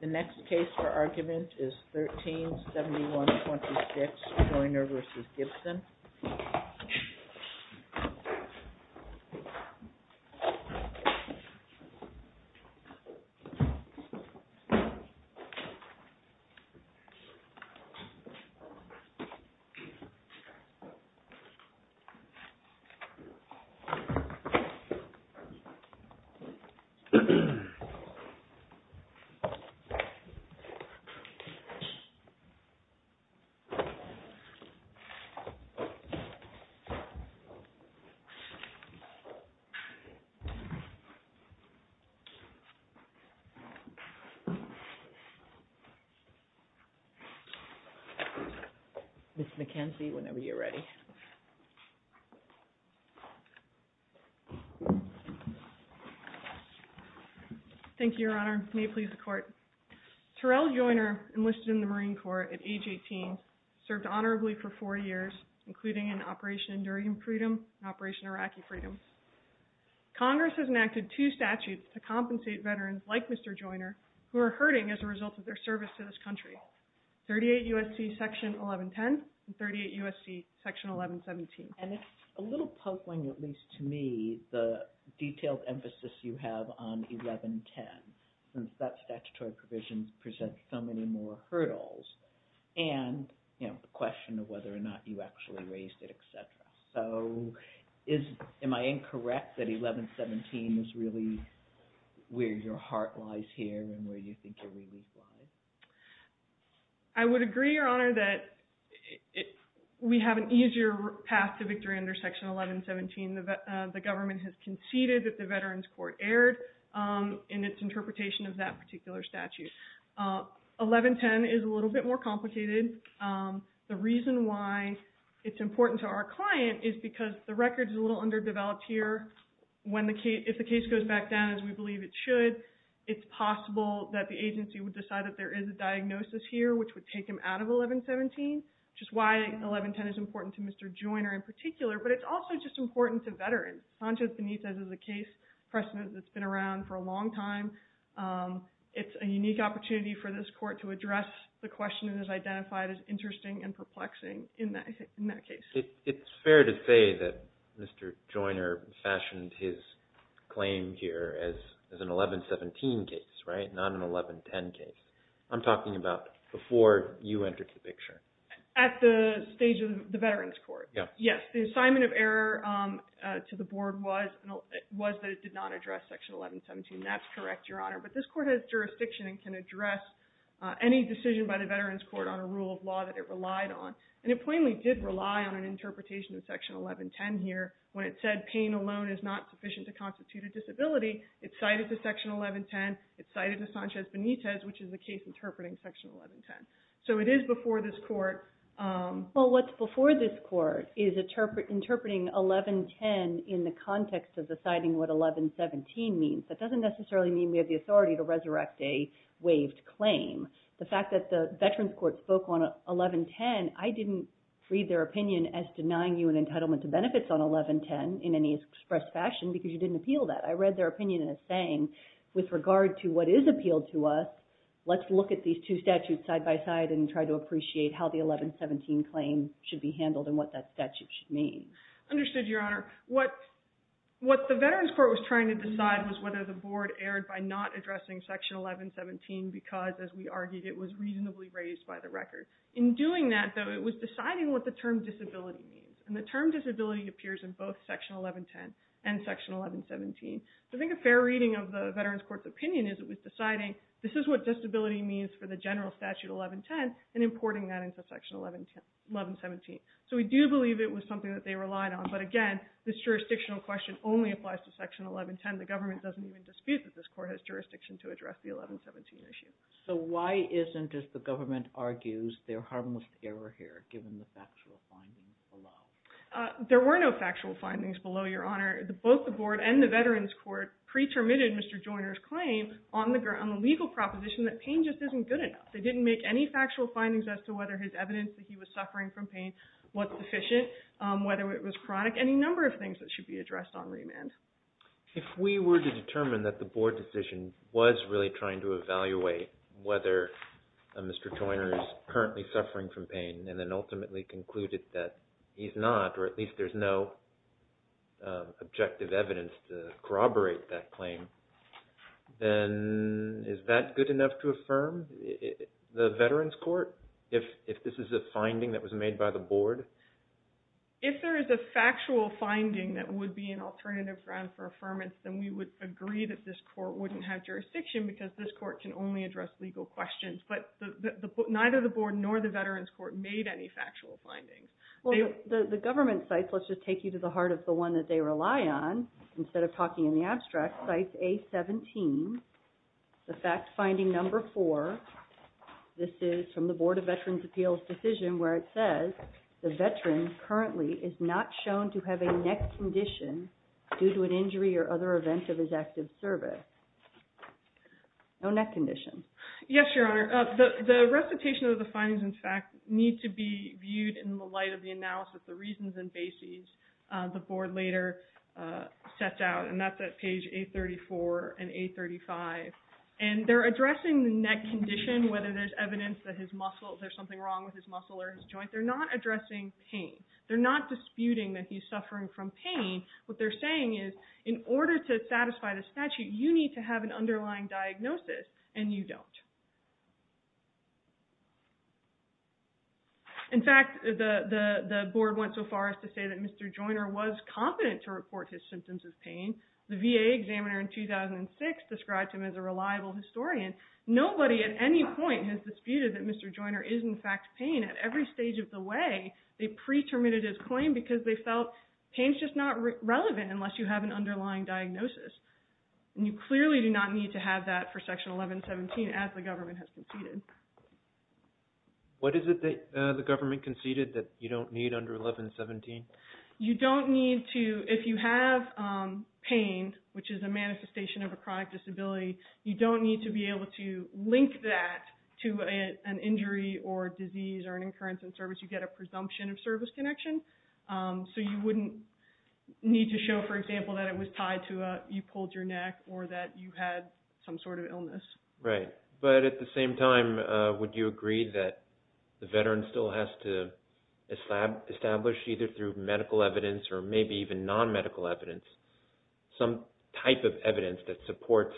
The next case for argument is 13-7126 Joyner v. Gibson Ms. McKenzie, whenever you are ready. Ms. McKenzie Thank you, Your Honor. May it please the Court. Terrell Joyner enlisted in the Marine Corps at age 18, served honorably for four years including in Operation Enduring Freedom and Operation Iraqi Freedom. Congress has enacted two statutes to compensate veterans like Mr. Joyner who are hurting as a result of their service to this country, 38 U.S.C. Section 1110 and 38 U.S.C. Section 1117. Ms. McKenzie And it's a little pokeling at least to me the detailed emphasis you have on 1110 since that statutory provision presents so many more hurdles and the question of whether or not you actually raised it, etc. So am I incorrect that 1117 is really where your Ms. McKenzie I would agree, Your Honor, that we have an easier path to victory under Section 1117. The government has conceded that the Veterans Court erred in its interpretation of that particular statute. 1110 is a little bit more complicated. The reason why it's important to our client is because the record is a little underdeveloped here. If the case goes back down as we believe it should, it's possible that the agency would decide that there is a diagnosis here which would take them out of 1117, which is why 1110 is important to Mr. Joyner in particular, but it's also just important to veterans. Sanchez-Benitez is a case precedent that's been around for a long time. It's a unique opportunity for this court to address the question that is identified as interesting and perplexing in that case. It's fair to say that Mr. Joyner fashioned his claim here as an 1117 case, right, not an 1110 case. I'm talking about before you entered the picture. At the stage of the Veterans Court, yes. The assignment of error to the board was that it did not address Section 1117. That's correct, Your Honor, but this court has jurisdiction and can address any decision by the Veterans Court on a rule of law that it relied on, and it plainly did rely on an interpretation of Section 1110 here when it said pain alone is not sufficient to constitute a disability. It cited the Section 1110. It cited the Sanchez-Benitez, which is the case interpreting Section 1110, so it is before this court. Well, what's before this court is interpreting 1110 in the context of deciding what 1117 means. That doesn't necessarily mean we have the authority to resurrect a waived claim. The fact that the Veterans Court spoke on 1110, I didn't read their opinion as denying you an entitlement to benefits on 1110 in any express fashion because you didn't appeal that. I read their opinion as saying, with regard to what is appealed to us, let's look at these two statutes side by side and try to appreciate how the 1117 claim should be handled and what that statute should mean. Understood, Your Honor. What the Veterans Court was trying to decide was whether the argument was reasonably raised by the record. In doing that, though, it was deciding what the term disability means, and the term disability appears in both Section 1110 and Section 1117. I think a fair reading of the Veterans Court's opinion is it was deciding this is what disability means for the general statute 1110 and importing that into Section 1117. So we do believe it was something that they relied on, but again, this jurisdictional question only applies to Section 1110. The government doesn't even dispute that this court has jurisdiction to Why isn't, as the government argues, there harmless error here, given the factual findings below? There were no factual findings below, Your Honor. Both the board and the Veterans Court pre-terminated Mr. Joyner's claim on the legal proposition that pain just isn't good enough. They didn't make any factual findings as to whether his evidence that he was suffering from pain was sufficient, whether it was chronic, any number of things that should be addressed on remand. If we were to determine that the board decision was really trying to evaluate whether Mr. Joyner is currently suffering from pain and then ultimately concluded that he's not, or at least there's no objective evidence to corroborate that claim, then is that good enough to affirm the Veterans Court? If this is a finding that was made by the board? If there is a factual finding that would be an alternative ground for affirmance, then we would agree that this court wouldn't have jurisdiction because this court can only address legal questions, but neither the board nor the Veterans Court made any factual findings. Well, the government sites, let's just take you to the heart of the one that they rely on, instead of talking in the abstract, site A-17, the fact finding number four. This is from the Board of Veterans' Appeals decision where it says the veteran currently is not shown to have a neck condition due to an injury or other events of his active service. No neck condition. Yes, Your Honor. The recitation of the findings, in fact, need to be viewed in the light of the analysis, the reasons and bases the board later sets out, and that's at page 834 and 835. And they're addressing the neck condition, whether there's evidence that there's something wrong with his muscle or his joint. They're not addressing pain. They're not disputing that he's suffering from pain. What they're saying is in order to satisfy the statute, you need to have an underlying diagnosis, and you don't. In fact, the board went so far as to say that Mr. Joyner was competent to report his symptoms of pain. The VA examiner in 2006 described him as a reliable historian. Nobody at any point has disputed that Mr. Joyner is in fact pain. At every stage of the way, they pre-terminated his claim because they felt pain is just not relevant unless you have an underlying diagnosis. And you clearly do not need to have that for Section 1117 as the government has conceded. What is it that the government conceded that you don't need under 1117? You don't need to, if you have pain, which is a manifestation of a chronic disability, you don't need to be able to link that to an injury or disease or an occurrence in service. You get a presumption of service connection. So you wouldn't need to show, for example, that it was tied to you pulled your neck or that you had some sort of illness. Right. But at the same time, would you agree that the veteran still has to establish, either through medical evidence or maybe even non-medical evidence, some type of evidence that supports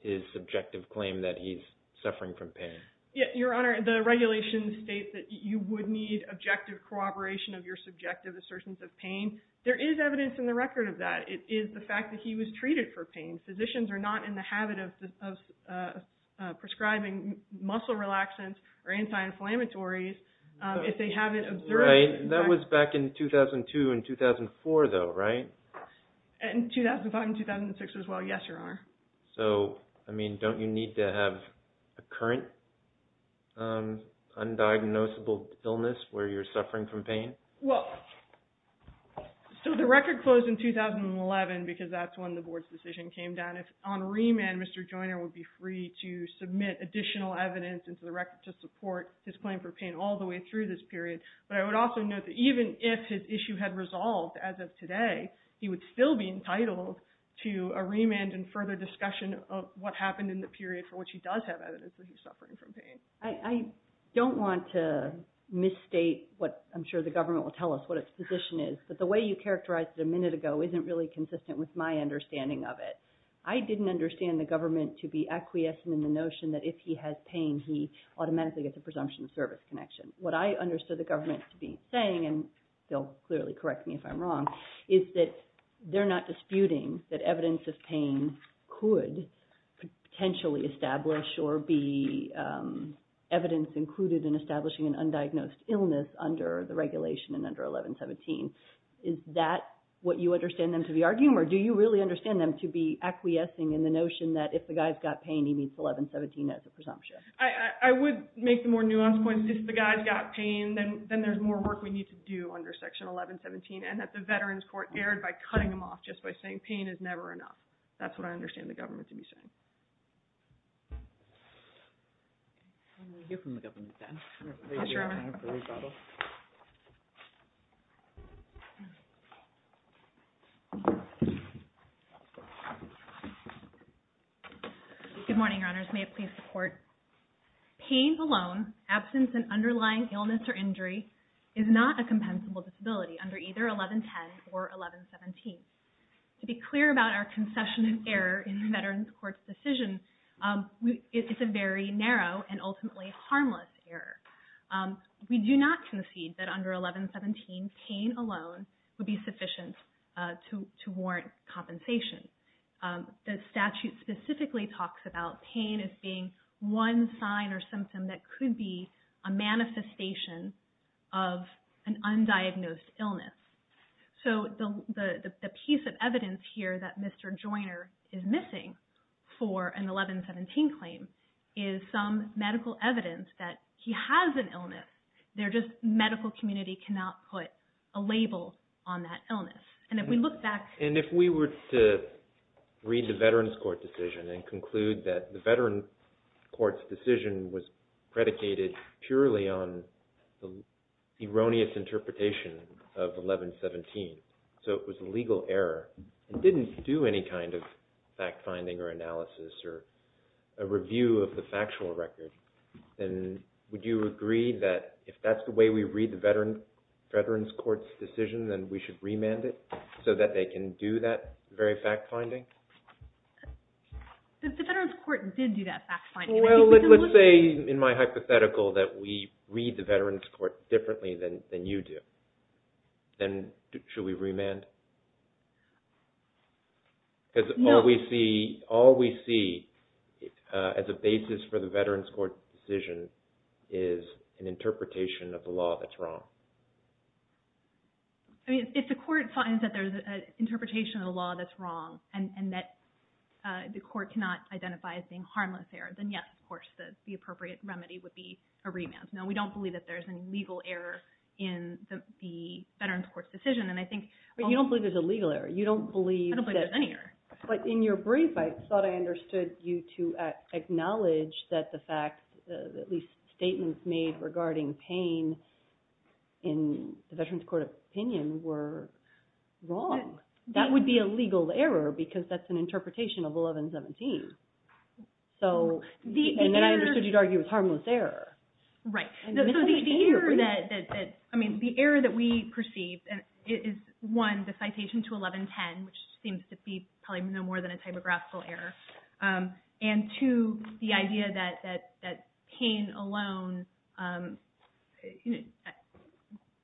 his subjective claim that he's suffering from pain? Your Honor, the regulations state that you would need objective corroboration of your subjective assertions of pain. There is evidence in the record of that. It is the fact that he was treated for pain. Physicians are not in the habit of prescribing muscle relaxants or anti-inflammatories if they haven't observed it. That was back in 2002 and 2004, though, right? In 2005 and 2006 as well, yes, Your Honor. So, I mean, don't you need to have a current undiagnosable illness where you're suffering from pain? Well, so the record closed in 2011 because that's when the Board's decision came down. On remand, Mr. Joyner would be free to submit additional evidence into the record to support his claim for pain all the way through this period. But I would also note that even if his issue had resolved as of today, he would still be entitled to a remand and further discussion of what happened in the period for which he does have evidence that he's suffering from pain. I don't want to misstate what I'm sure the government will tell us what its position is, but the way you characterized it a minute ago isn't really consistent with my understanding of it. I didn't understand the government to be acquiescent in the notion that if he has pain, he automatically gets a presumption of service connection. What I understood the government to be saying, and they'll clearly correct me if I'm wrong, is that they're not disputing that evidence of pain could potentially establish or be evidence included in establishing an undiagnosed illness under the regulation and under 1117. Is that what you understand them to be arguing, or do you really understand them to be acquiescing in the notion that if the guy's got pain, he meets 1117 as a presumption? I would make the more nuanced point that if the guy's got pain, then there's more work we need to do under Section 1117, and that the Veterans Court erred by cutting him off just by saying pain is never enough. That's what I understand the government to be saying. Good morning, Your Honors. May it please the Court, pain alone, absence and underlying illness or injury, is not a compensable disability under either 1110 or 1117. To be clear about our concession in error in the Veterans Court's decision, it's a very narrow and ultimately harmless error. We do not concede that under 1117, pain alone would be sufficient to warrant compensation. The statute specifically talks about pain as being one sign or symptom that could be a manifestation of an undiagnosed illness. So the piece of evidence here that Mr. Joyner is missing for an 1117 claim is some medical evidence that he has an illness. The medical community cannot put a label on that illness. And if we look back... And if we were to read the Veterans Court decision and conclude that the Veterans Court's decision was predicated purely on the erroneous interpretation of 1117, so it was a legal error and didn't do any kind of fact-finding or analysis or a review of the factual record, then would you agree that if that's the way we read the Veterans Court's decision, then we should remand it so that they can do that very fact-finding? The Veterans Court did do that fact-finding. Well, let's say in my hypothetical that we read the Veterans Court differently than you do. Then should we remand? Because all we see as a basis for the Veterans Court's decision is an interpretation of the law that's wrong. If the court finds that there's an interpretation of the law that's wrong and that the court cannot identify as being harmless error, then, yes, of course, the appropriate remedy would be a remand. No, we don't believe that there's a legal error in the Veterans Court's decision. You don't believe there's a legal error. I don't believe there's any error. But in your brief, I thought I understood you to acknowledge that the fact, at least statements made regarding pain in the Veterans Court opinion were wrong. That would be a legal error because that's an interpretation of 1117. And then I understood you to argue it was harmless error. Right. So the error that we perceived is, one, the citation to 1110, which seems to be probably no more than a typographical error, and, two, the idea that pain alone, that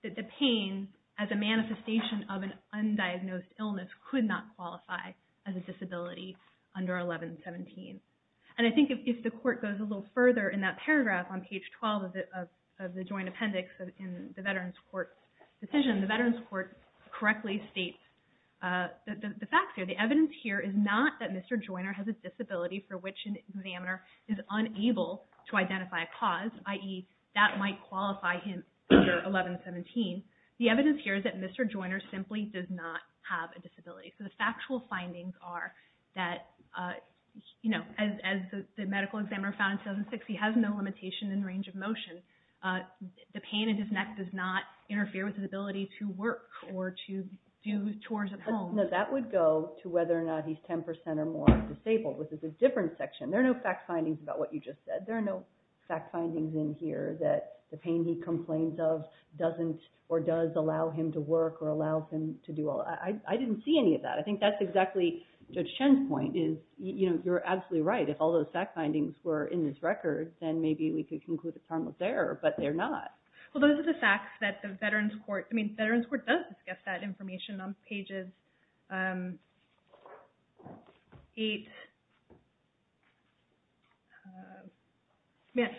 the pain as a manifestation of an undiagnosed illness could not qualify as a disability under 1117. And I think if the court goes a little further in that paragraph on page 12 of the Joint Appendix in the Veterans Court's decision, the Veterans Court correctly states the facts here. The fact here is not that Mr. Joyner has a disability for which an examiner is unable to identify a cause, i.e., that might qualify him under 1117. The evidence here is that Mr. Joyner simply does not have a disability. So the factual findings are that, as the medical examiner found in 2006, he has no limitation in range of motion. The pain in his neck does not interfere with his ability to work or to do tours at home. Now, that would go to whether or not he's 10% or more disabled, which is a different section. There are no fact findings about what you just said. There are no fact findings in here that the pain he complains of doesn't or does allow him to work or allows him to do all that. I didn't see any of that. I think that's exactly Judge Chen's point is, you know, you're absolutely right. If all those fact findings were in this record, then maybe we could conclude the time was there, but they're not. Well, those are the facts that the Veterans Court –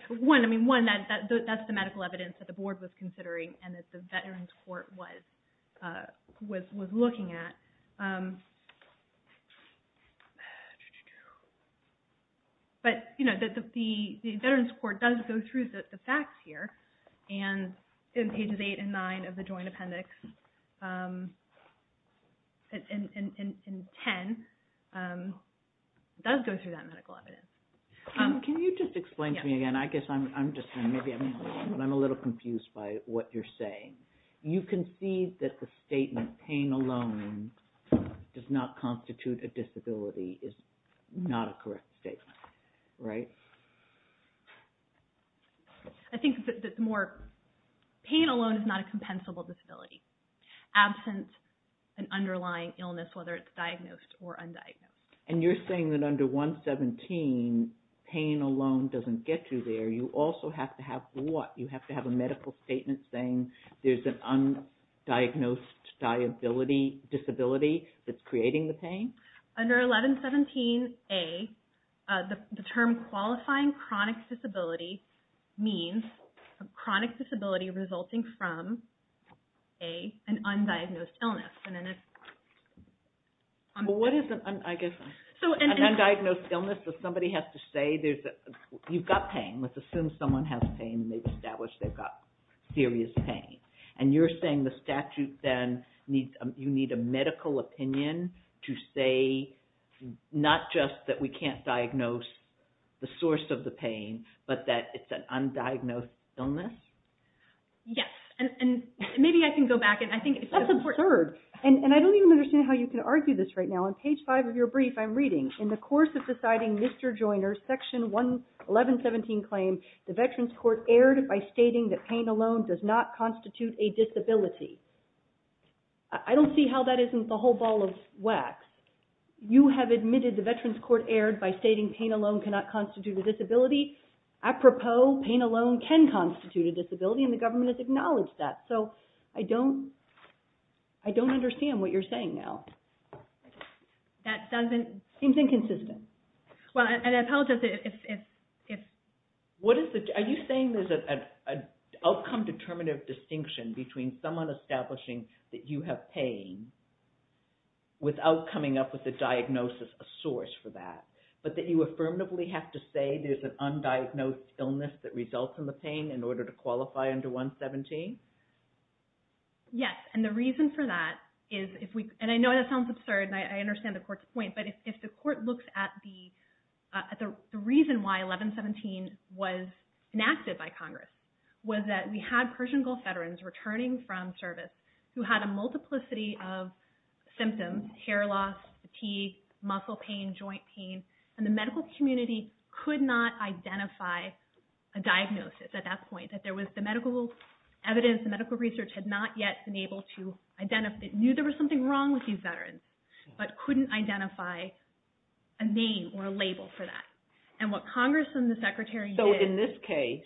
One, I mean, one, that's the medical evidence that the board was considering and that the Veterans Court was looking at. But, you know, the Veterans Court does go through the facts here, and in pages 8 and 9 of the Joint Appendix, and 10, it does go through that medical evidence. Can you just explain to me again? I guess I'm just – maybe I'm a little confused by what you're saying. You concede that the statement pain alone does not constitute a disability is not a correct statement, right? I think that the more – pain alone is not a compensable disability. Absent an underlying illness, whether it's diagnosed or undiagnosed. And you're saying that under 117, pain alone doesn't get you there. You also have to have what? You have to have a medical statement saying there's an undiagnosed disability that's creating the pain? Under 1117A, the term qualifying chronic disability means a chronic disability resulting from an undiagnosed illness. Well, what is an undiagnosed illness? If somebody has to say you've got pain, let's assume someone has pain and they've established they've got serious pain. And you're saying the statute then, you need a medical opinion to say not just that we can't diagnose the source of the pain, but that it's an undiagnosed illness? Yes, and maybe I can go back. That's absurd. And I don't even understand how you can argue this right now. On page five of your brief, I'm reading, in the course of deciding Mr. Joiner's section 1117 claim, the Veterans Court erred by stating that pain alone does not constitute a disability. I don't see how that isn't the whole ball of wax. You have admitted the Veterans Court erred by stating pain alone cannot constitute a disability. Apropos, pain alone can constitute a disability, and the government has acknowledged that. So I don't understand what you're saying now. That doesn't... Seems inconsistent. Well, and I apologize if... Are you saying there's an outcome-determinative distinction between someone establishing that you have pain without coming up with a diagnosis, a source for that, but that you affirmatively have to say there's an undiagnosed illness that results in the pain in order to qualify under 117? Yes, and the reason for that is if we... And I know that sounds absurd, and I understand the Court's point, but if the Court looks at the... The reason why 1117 was enacted by Congress was that we had Persian Gulf veterans returning from service who had a multiplicity of symptoms, hair loss, fatigue, muscle pain, joint pain, and the medical community could not identify a diagnosis at that point, that there was... The medical evidence, the medical research had not yet been able to identify... Knew there was something wrong with these veterans, but couldn't identify a name or a label for that. And what Congress and the Secretary did... So in this case,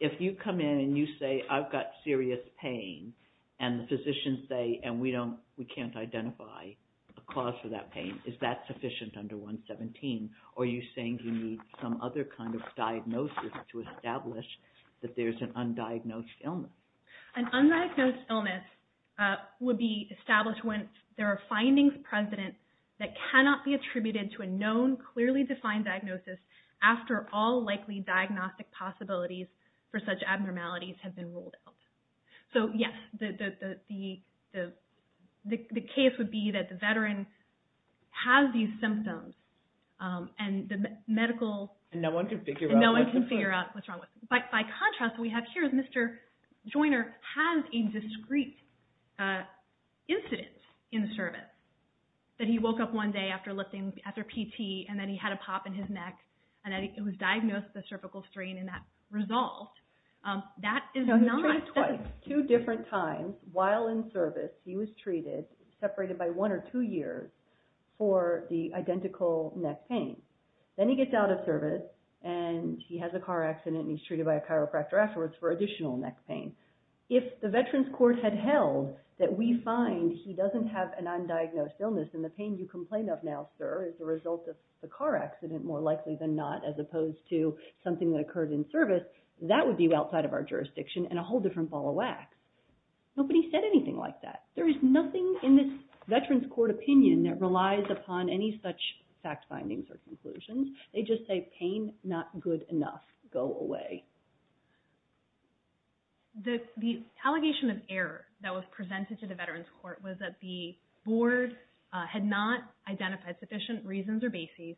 if you come in and you say, I've got serious pain, and the physicians say, and we can't identify a cause for that pain, is that sufficient under 117? Or are you saying you need some other kind of diagnosis to establish that there's an undiagnosed illness? An undiagnosed illness would be established when there are findings present that cannot be attributed to a known, clearly defined diagnosis after all likely diagnostic possibilities for such abnormalities have been ruled out. So yes, the case would be that the veteran has these symptoms, and the medical... And no one can figure out what's wrong with them. And no one can figure out what's wrong with them. By contrast, what we have here is Mr. Joyner has a discrete incident in the service, that he woke up one day after lifting, after PT, and then he had a pop in his neck, and it was diagnosed as a cervical strain, and that resolved. That is not... So he's treated twice, two different times. While in service, he was treated, separated by one or two years, for the identical neck pain. Then he gets out of service, and he has a car accident, and he's treated by a chiropractor afterwards for additional neck pain. If the Veterans Court had held that we find he doesn't have an undiagnosed illness, and the pain you complain of now, sir, is a result of the car accident, more likely than not, as opposed to something that occurred in service, that would be outside of our jurisdiction, and a whole different ball of wax. Nobody said anything like that. There is nothing in this Veterans Court opinion that relies upon any such fact findings or conclusions. They just say pain, not good enough. Go away. The allegation of error that was presented to the Veterans Court was that the board had not identified sufficient reasons or bases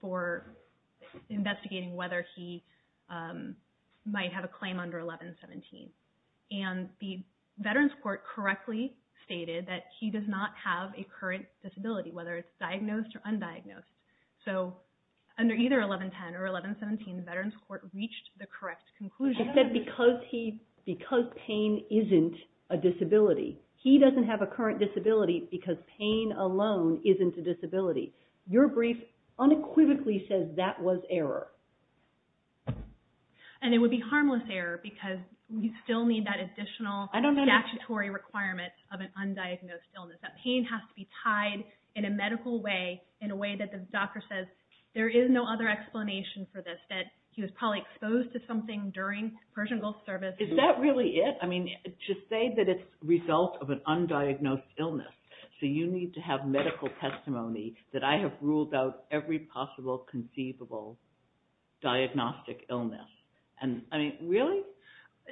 for investigating whether he might have a claim under 1117. And the Veterans Court correctly stated that he does not have a current disability, whether it's diagnosed or undiagnosed. So under either 1110 or 1117, the Veterans Court reached the correct conclusion. He said because pain isn't a disability. He doesn't have a current disability because pain alone isn't a disability. Your brief unequivocally says that was error. And it would be harmless error because we still need that additional statutory requirement of an undiagnosed illness. That pain has to be tied in a medical way, in a way that the doctor says there is no other explanation for this, that he was probably exposed to something during Persian Gulf service. Is that really it? I mean, to say that it's a result of an undiagnosed illness, so you need to have medical testimony that I have ruled out every possible conceivable diagnostic illness. I mean, really?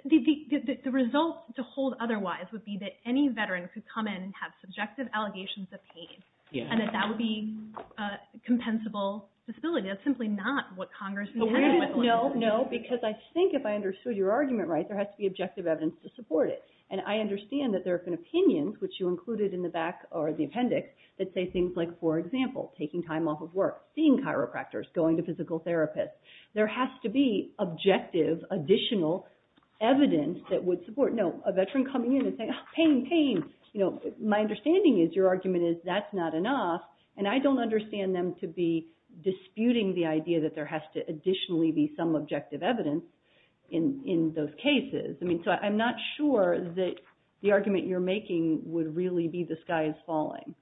The result to hold otherwise would be that any veteran could come in and have subjective allegations of pain, and that that would be a compensable disability. That's simply not what Congress intended. No, because I think if I understood your argument right, there has to be objective evidence to support it. And I understand that there have been opinions, which you included in the back or the appendix, that say things like, for example, taking time off of work, seeing chiropractors, going to physical therapists. There has to be objective additional evidence that would support... No, a veteran coming in and saying, pain, pain, you know, my understanding is your argument is that's not enough, and I don't understand them to be disputing the idea that there has to additionally be some objective evidence in those cases. I mean, so I'm not sure that the argument you're making would really be the sky is falling,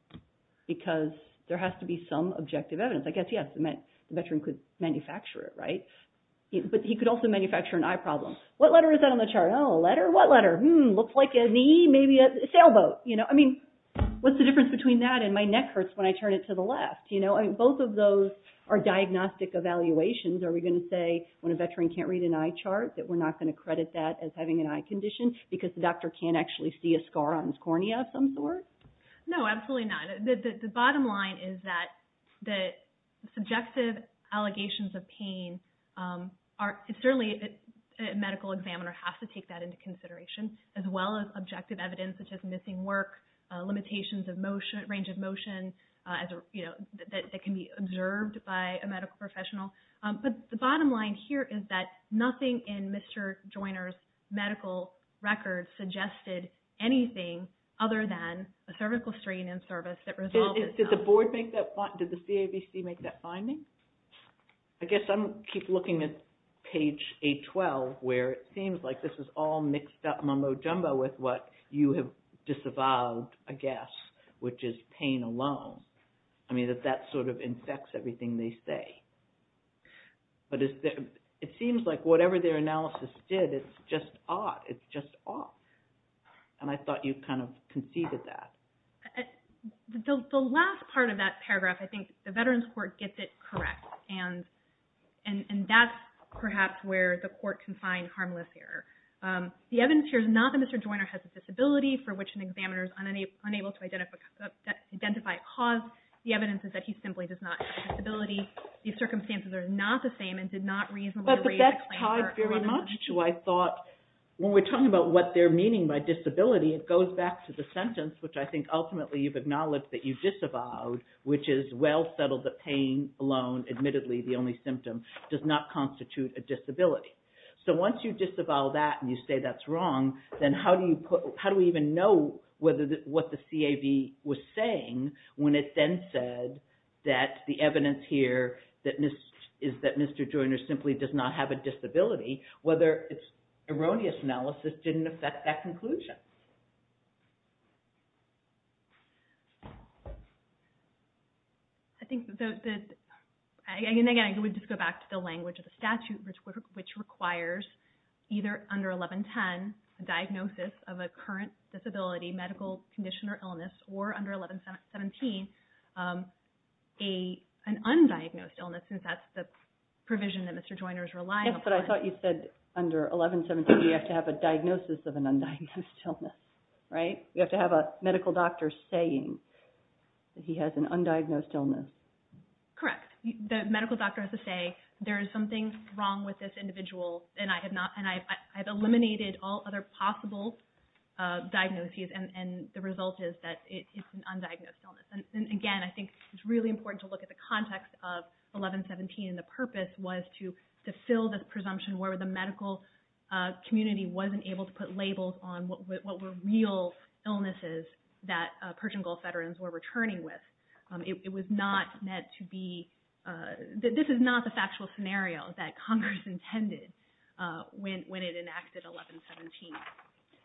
because there has to be some objective evidence. I guess, yes, a veteran could manufacture it, right? But he could also manufacture an eye problem. What letter is that on the chart? Oh, a letter? What letter? Hmm, looks like an E, maybe a sailboat. You know, I mean, what's the difference between that and my neck hurts when I turn it to the left? You know, both of those are diagnostic evaluations. Are we going to say when a veteran can't read an eye chart that we're not going to credit that as having an eye condition because the doctor can't actually see a scar on his cornea of some sort? No, absolutely not. The bottom line is that the subjective allegations of pain are certainly a medical examiner has to take that into consideration, as well as objective evidence, such as missing work, limitations of range of motion, you know, that can be observed by a medical professional. But the bottom line here is that nothing in Mr. Joyner's medical record suggested anything other than a cervical strain in service that resolves itself. Did the board make that, did the CAVC make that finding? I guess I'm keep looking at page 812 where it seems like this is all mixed up mumbo jumbo with what you have disavowed, I guess, which is pain alone. I mean, that that sort of infects everything they say. But it seems like whatever their analysis did, it's just odd, it's just odd. And I thought you kind of conceded that. The last part of that paragraph, I think, the Veterans Court gets it correct. And that's perhaps where the court can find harmless error. The evidence here is not that Mr. Joyner has a disability for which an examiner is unable to identify a cause. The evidence is that he simply does not have a disability. These circumstances are not the same and did not reasonably I thought when we're talking about what they're meaning by disability, it goes back to the sentence, which I think ultimately you've acknowledged that you disavowed, which is well settled that pain alone, admittedly, the only symptom, does not constitute a disability. So once you disavow that and you say that's wrong, then how do we even know what the CAV was saying when it then said that the evidence here is that Mr. Joyner simply does not have a disability, whether it's erroneous analysis didn't affect that conclusion. I think that, again, I would just go back to the language of the statute, which requires either under 1110, a diagnosis of a current disability, medical condition or illness, or under 1117, an undiagnosed illness, since that's the provision that Mr. Joyner is relying upon. Yes, but I thought you said under 1117, you have to have a diagnosis of an undiagnosed illness, right? You have to have a medical doctor saying that he has an undiagnosed illness. Correct. The medical doctor has to say there is something wrong with this individual and I have eliminated all other possible diagnoses and the result is that it's an undiagnosed illness. And again, I think it's really important to look at the context of 1117 and the purpose was to fill the presumption where the medical community wasn't able to put labels on what were real illnesses that Persian Gulf veterans were returning with. It was not meant to be, this is not the factual scenario that Congress intended when it enacted 1117.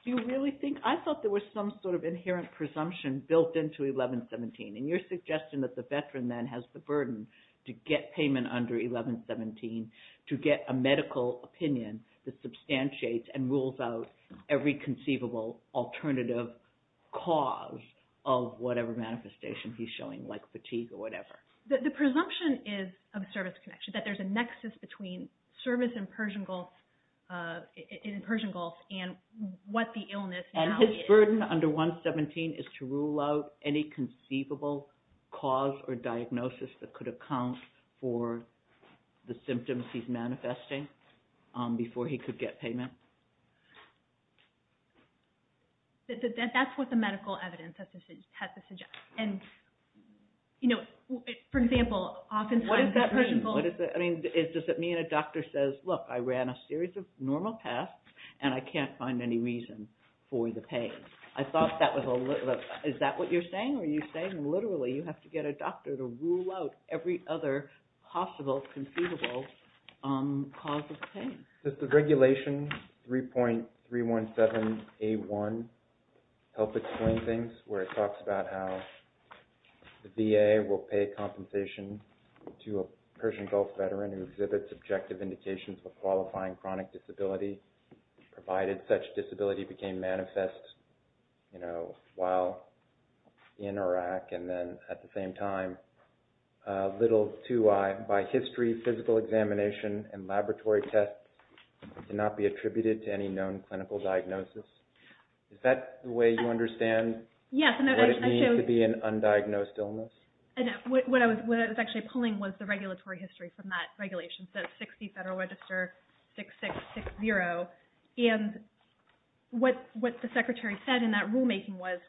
Do you really think, I thought there was some sort of inherent presumption built into 1117. And your suggestion that the veteran then has the burden to get payment under 1117 to get a medical opinion that substantiates and rules out every conceivable alternative cause of whatever manifestation he's showing, like fatigue or whatever. The presumption is of a service connection, that there's a nexus between service in Persian Gulf and what the illness now is. So his burden under 1117 is to rule out any conceivable cause or diagnosis that could account for the symptoms he's manifesting before he could get payment? That's what the medical evidence has to suggest. And, you know, for example, oftentimes the Persian Gulf... What does that mean? Does it mean a doctor says, look, I ran a series of normal tests and I can't find any reason for the pain? I thought that was a little... Is that what you're saying? Are you saying literally you have to get a doctor to rule out every other possible conceivable cause of pain? Does the regulation 3.317A1 help explain things where it talks about how the VA will pay compensation to a Persian Gulf veteran who exhibits objective indications of qualifying chronic disability, provided such disability became manifest, you know, while in Iraq, and then at the same time, little to by history, physical examination, and laboratory tests cannot be attributed to any known clinical diagnosis? Is that the way you understand what it means to be an undiagnosed illness? What I was actually pulling was the regulatory history from that regulation, so 60 Federal Register 6660, and what the Secretary said in that rulemaking was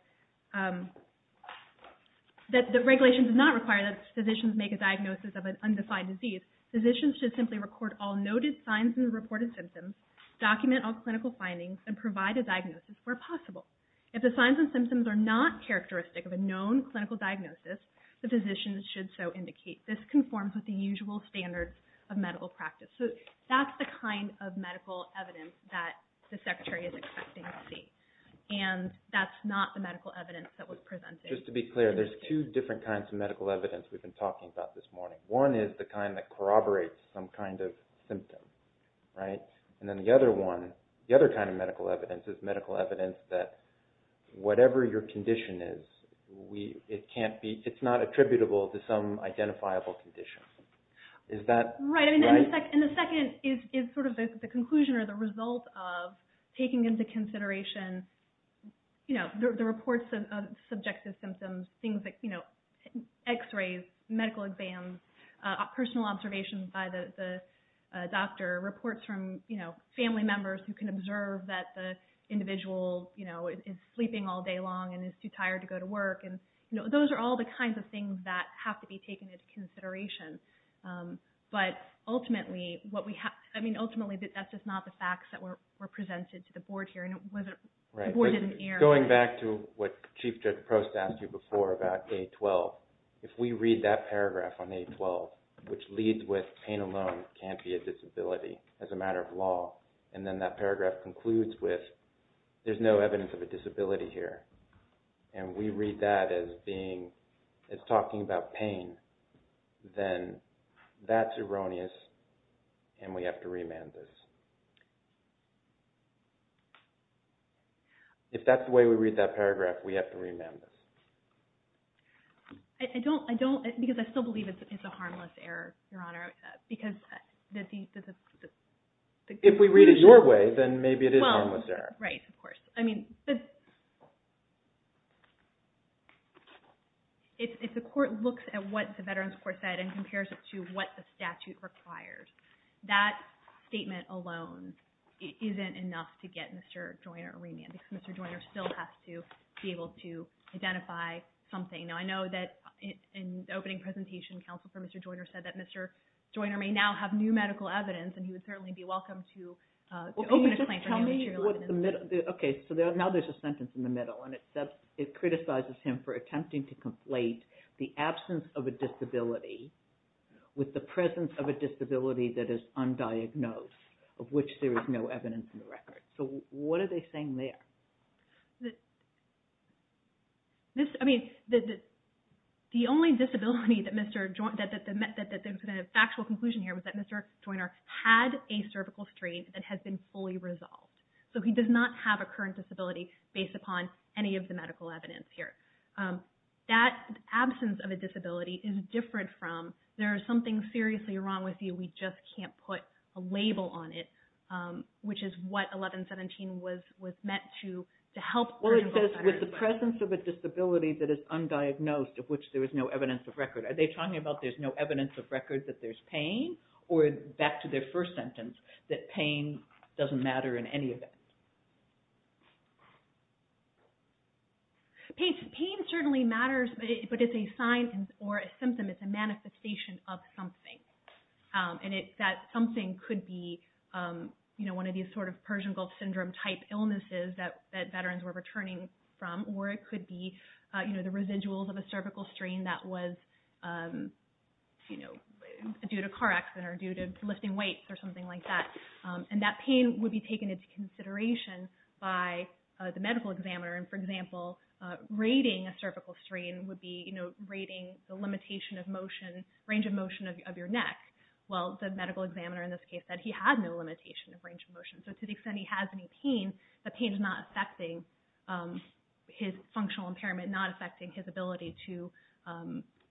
that the regulation does not require that physicians make a diagnosis of an undefined disease. Physicians should simply record all noted signs and reported symptoms, document all clinical findings, and provide a diagnosis where possible. If the signs and symptoms are not characteristic of a known clinical diagnosis, the physicians should so indicate. This conforms with the usual standards of medical practice. So that's the kind of medical evidence that the Secretary is expecting to see, and that's not the medical evidence that was presented. Just to be clear, there's two different kinds of medical evidence we've been talking about this morning. One is the kind that corroborates some kind of symptom, right? And then the other one, the other kind of medical evidence is medical evidence that whatever your condition is, it's not attributable to some identifiable condition. Is that right? Right, and the second is sort of the conclusion or the result of taking into consideration the reports of subjective symptoms, things like x-rays, medical exams, personal observations by the doctor, reports from family members who can observe that the individual is sleeping all day long and is too tired to go to work. Those are all the kinds of things that have to be taken into consideration. But ultimately, that's just not the facts that were presented to the Board here, and the Board didn't hear. Going back to what Chief Judge Prost asked you before about A12, if we read that paragraph on A12, which leads with pain alone can't be a disability as a matter of law, and then that paragraph concludes with there's no evidence of a disability here, and we read that as being, as talking about pain, then that's erroneous, and we have to remand this. If that's the way we read that paragraph, we have to remand this. I don't, I don't, because I still believe it's a harmless error, Your Honor, because the... If we read it your way, then maybe it is a harmless error. Well, right, of course. I mean, the... If the Court looks at what the Veterans Court said and compares it to what the statute requires, that statement alone isn't enough to get Mr. Joyner remanded, because Mr. Joyner still has to be able to identify something. Now, I know that in the opening presentation, Counsel for Mr. Joyner said that Mr. Joyner may now have new medical evidence, and he would certainly be welcome to open a claim for new material evidence. Okay, so now there's a sentence in the middle, and it criticizes him for attempting to conflate the absence of a disability with the presence of a disability that is undiagnosed, of which there is no evidence in the record. So what are they saying there? This, I mean, the only disability that Mr. Joyner, that there's an actual conclusion here, was that Mr. Joyner had a cervical sprain that has been fully resolved. So he does not have a current disability based upon any of the medical evidence here. That absence of a disability is different from, there is something seriously wrong with you, we just can't put a label on it, which is what 1117 was meant to help... Well, it says, with the presence of a disability that is undiagnosed, of which there is no evidence of record. Are they talking about there's no evidence of record that there's pain, or back to their first sentence, that pain doesn't matter in any event? Pain certainly matters, but it's a sign or a symptom, it's a manifestation of something. And that something could be one of these sort of Persian Gulf Syndrome type illnesses that veterans were returning from, or it could be the residuals of a cervical strain that was due to car accident or due to lifting weights or something like that. And that pain would be taken into consideration by the medical examiner. And for example, rating a cervical strain would be rating the range of motion of your neck. Well, the medical examiner in this case said he had no limitation of range of motion. So to the extent he has any pain, that pain is not affecting his functional impairment, not affecting his ability to...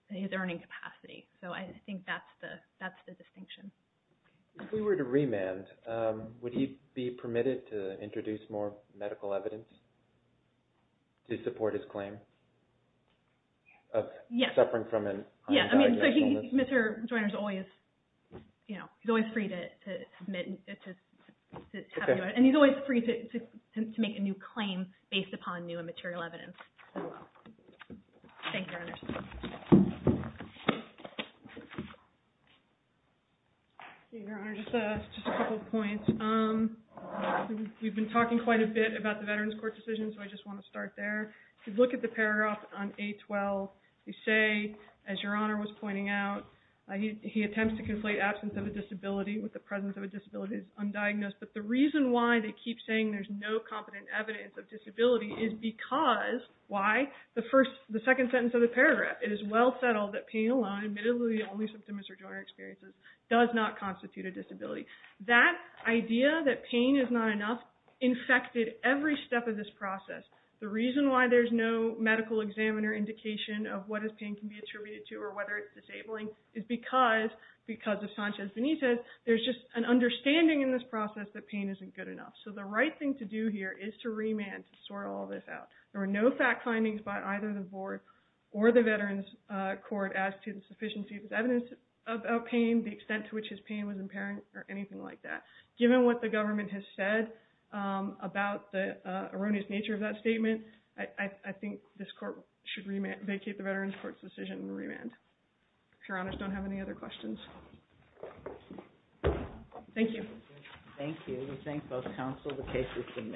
his earning capacity. So I think that's the distinction. If we were to remand, would he be permitted to introduce more medical evidence to support his claim of suffering from an... Yeah, I mean, Mr. Joyner's always, you know, he's always free to submit... and he's always free to make a new claim based upon new and material evidence as well. Thank you, Your Honor. Your Honor, just a couple of points. We've been talking quite a bit about the Veterans Court decision, so I just want to start there. If you look at the paragraph on A12, you say, as Your Honor was pointing out, he attempts to conflate absence of a disability with the presence of a disability as undiagnosed. But the reason why they keep saying there's no competent evidence of disability is because...why? The second sentence of the paragraph, it is well settled that pain alone, admittedly the only symptoms Mr. Joyner experiences, does not constitute a disability. That idea that pain is not enough infected every step of this process. The reason why there's no medical examiner indication of what is pain can be attributed to or whether it's disabling is because, because of Sanchez-Benitez, there's just an understanding in this process that pain isn't good enough. So the right thing to do here is to remand, to sort all this out. There were no fact findings by either the board or the Veterans Court as to the sufficiency of evidence of pain, the extent to which his pain was impairing, or anything like that. Given what the government has said about the erroneous nature of that statement, I think this court should vacate the Veterans Court's decision and remand. If Your Honors don't have any other questions. Thank you. Thank you.